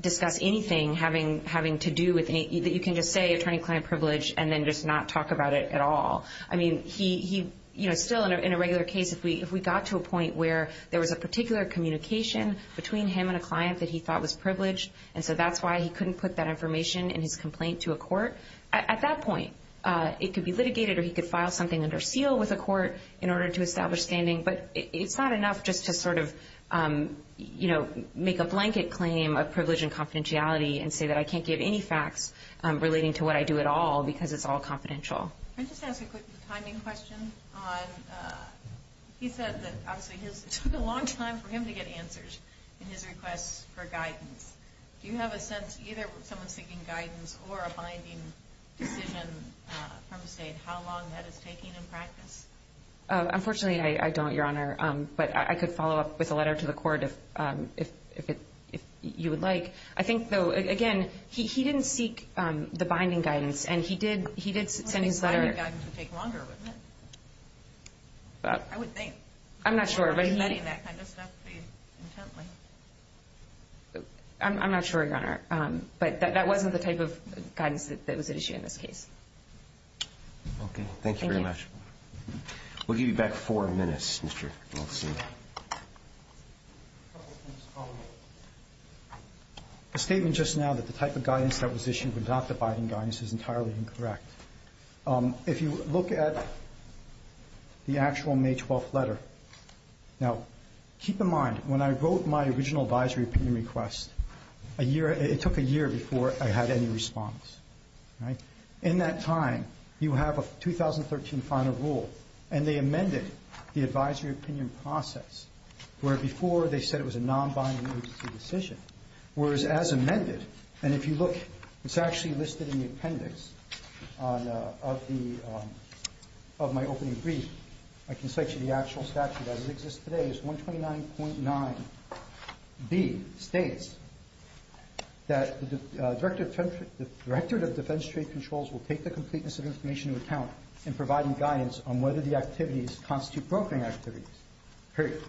discuss anything having to do with anything. You can just say attorney-client privilege and then just not talk about it at all. I mean, still in a regular case, if we got to a point where there was a particular communication between him and a client that he thought was privileged, and so that's why he couldn't put that information in his complaint to a court, at that point it could be litigated or he could file something under seal with a court in order to establish standing. But it's not enough just to sort of make a blanket claim of privilege and confidentiality and say that I can't give any facts relating to what I do at all because it's all confidential. Can I just ask a quick timing question? He said that, obviously, it took a long time for him to get answers in his requests for guidance. Do you have a sense, either someone seeking guidance or a binding decision from the state, how long that is taking in practice? Unfortunately, I don't, Your Honor, but I could follow up with a letter to the court if you would like. I think, though, again, he didn't seek the binding guidance, and he did send his letter. I think the binding guidance would take longer, wouldn't it? I would think. I'm not sure. I'm not sure, Your Honor. But that wasn't the type of guidance that was at issue in this case. Okay. Thank you very much. We'll give you back four minutes, Mr. Wilson. A statement just now that the type of guidance that was issued was not the binding guidance is entirely incorrect. If you look at the actual May 12th letter, now, keep in mind, when I wrote my original advisory opinion request, it took a year before I had any response. In that time, you have a 2013 final rule, and they amended the advisory opinion process, where before they said it was a non-binding agency decision, whereas as amended, and if you look, it's actually listed in the appendix of my opening brief. I can cite you the actual statute as it exists today. It's 129.9B. It states that the Director of Defense Trade Controls will take the completeness of information into account in providing guidance on whether the activities constitute brokering activities, period.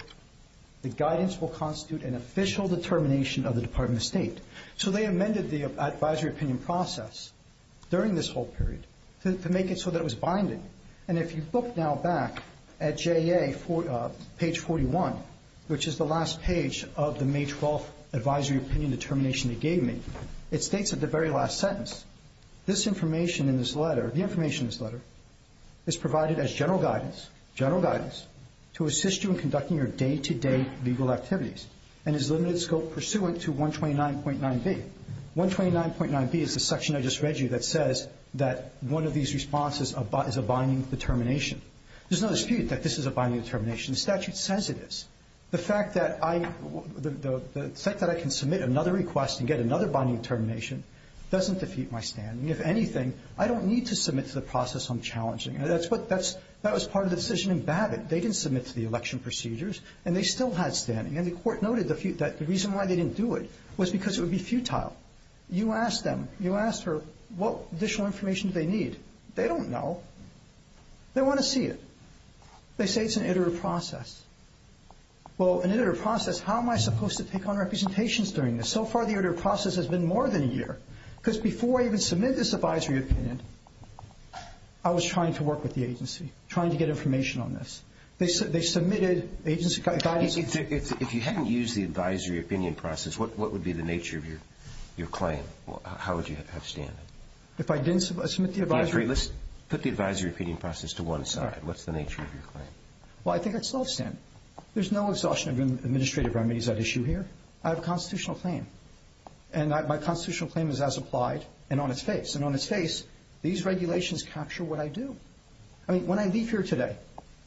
The guidance will constitute an official determination of the Department of State. So they amended the advisory opinion process during this whole period to make it so that it was binding. And if you look now back at JA page 41, which is the last page of the May 12th advisory opinion determination they gave me, it states at the very last sentence, this information in this letter, the information in this letter, is provided as general guidance, general guidance, to assist you in conducting your day-to-day legal activities and is limited scope pursuant to 129.9B. 129.9B is the section I just read you that says that one of these responses is a binding determination. There's no dispute that this is a binding determination. The statute says it is. The fact that I can submit another request and get another binding determination doesn't defeat my standing. If anything, I don't need to submit to the process I'm challenging. That was part of the decision in Babbitt. They didn't submit to the election procedures, and they still had standing. And the Court noted that the reason why they didn't do it was because it would be futile. You ask them, you ask her, what additional information do they need? They don't know. They want to see it. They say it's an iterative process. Well, an iterative process, how am I supposed to take on representations during this? So far, the iterative process has been more than a year. Because before I even submit this advisory opinion, I was trying to work with the agency, trying to get information on this. They submitted agency guidance. If you hadn't used the advisory opinion process, what would be the nature of your claim? How would you have standing? If I didn't submit the advisory? Let's put the advisory opinion process to one side. What's the nature of your claim? Well, I think I'd still have standing. There's no exhaustion of administrative remedies at issue here. I have a constitutional claim. And my constitutional claim is as applied and on its face. And on its face, these regulations capture what I do. I mean, when I leave here today,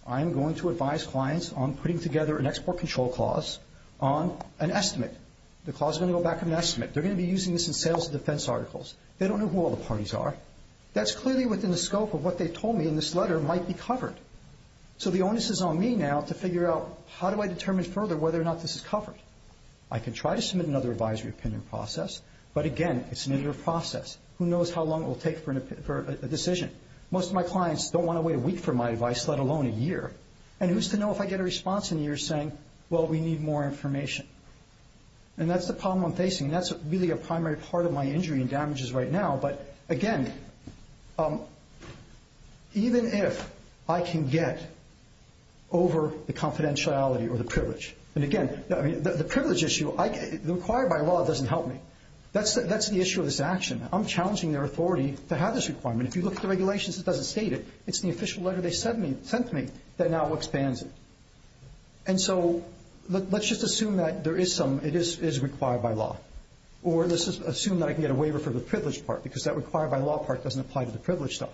I'm going to advise clients on putting together an export control clause on an estimate. The clause is going to go back on an estimate. They're going to be using this in sales and defense articles. They don't know who all the parties are. That's clearly within the scope of what they told me in this letter might be covered. So the onus is on me now to figure out how do I determine further whether or not this is covered. I can try to submit another advisory opinion process. But, again, it's an iterative process. Who knows how long it will take for a decision? Most of my clients don't want to wait a week for my advice, let alone a year. And who's to know if I get a response in a year saying, well, we need more information? And that's the problem I'm facing. That's really a primary part of my injury and damages right now. But, again, even if I can get over the confidentiality or the privilege. And, again, the privilege issue, required by law doesn't help me. That's the issue of this action. I'm challenging their authority to have this requirement. If you look at the regulations, it doesn't state it. It's the official letter they sent me that now expands it. And so let's just assume that there is some, it is required by law. Or let's just assume that I can get a waiver for the privilege part because that required by law part doesn't apply to the privilege stuff.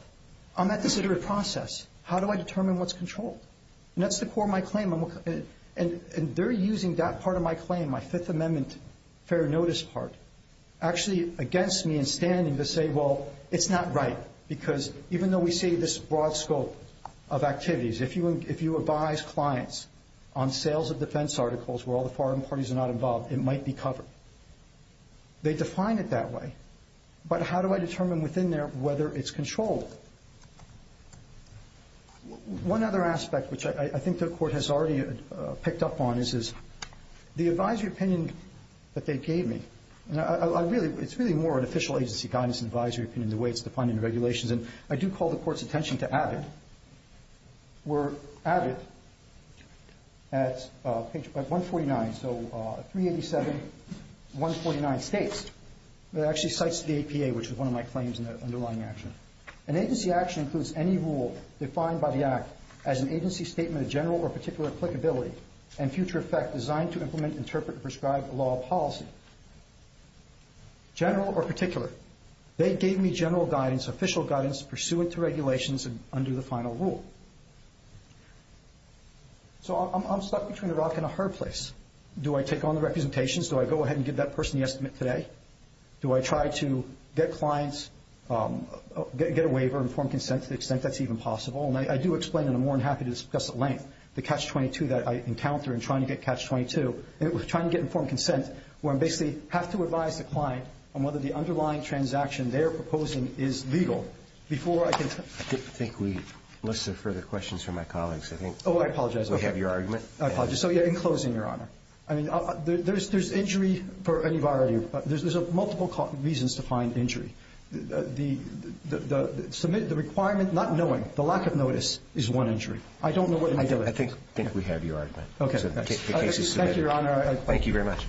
I'm at this iterative process. How do I determine what's controlled? And that's the core of my claim. And they're using that part of my claim, my Fifth Amendment fair notice part, actually against me in standing to say, well, it's not right. Because even though we see this broad scope of activities, if you advise clients on sales of defense articles where all the foreign parties are not involved, it might be covered. They define it that way. But how do I determine within there whether it's controlled? One other aspect, which I think the Court has already picked up on, the advisory opinion that they gave me, it's really more an official agency guidance and advisory opinion the way it's defined in the regulations. And I do call the Court's attention to AVID. Where AVID at page 149, so 387, 149 states, actually cites the APA, which is one of my claims in the underlying action. An agency action includes any rule defined by the Act as an agency statement of general or particular applicability and future effect designed to implement, interpret, and prescribe a law policy. General or particular. They gave me general guidance, official guidance, pursuant to regulations and under the final rule. So I'm stuck between a rock and a hard place. Do I take on the representations? Do I go ahead and give that person the estimate today? Do I try to get clients, get a waiver, and form consent to the extent that's even possible? And I do explain, and I'm more than happy to discuss at length, the catch-22 that I encounter in trying to get catch-22, trying to get informed consent where I basically have to advise the client on whether the underlying transaction they're proposing is legal before I can... I think we have less further questions from my colleagues, I think. Oh, I apologize. We have your argument. I apologize. So in closing, Your Honor, I mean, there's injury for any variety of reasons. There's multiple reasons to find injury. The requirement, not knowing, the lack of notice is one injury. I don't know what... I think we have your argument. Okay. The case is submitted. Thank you, Your Honor. Thank you very much.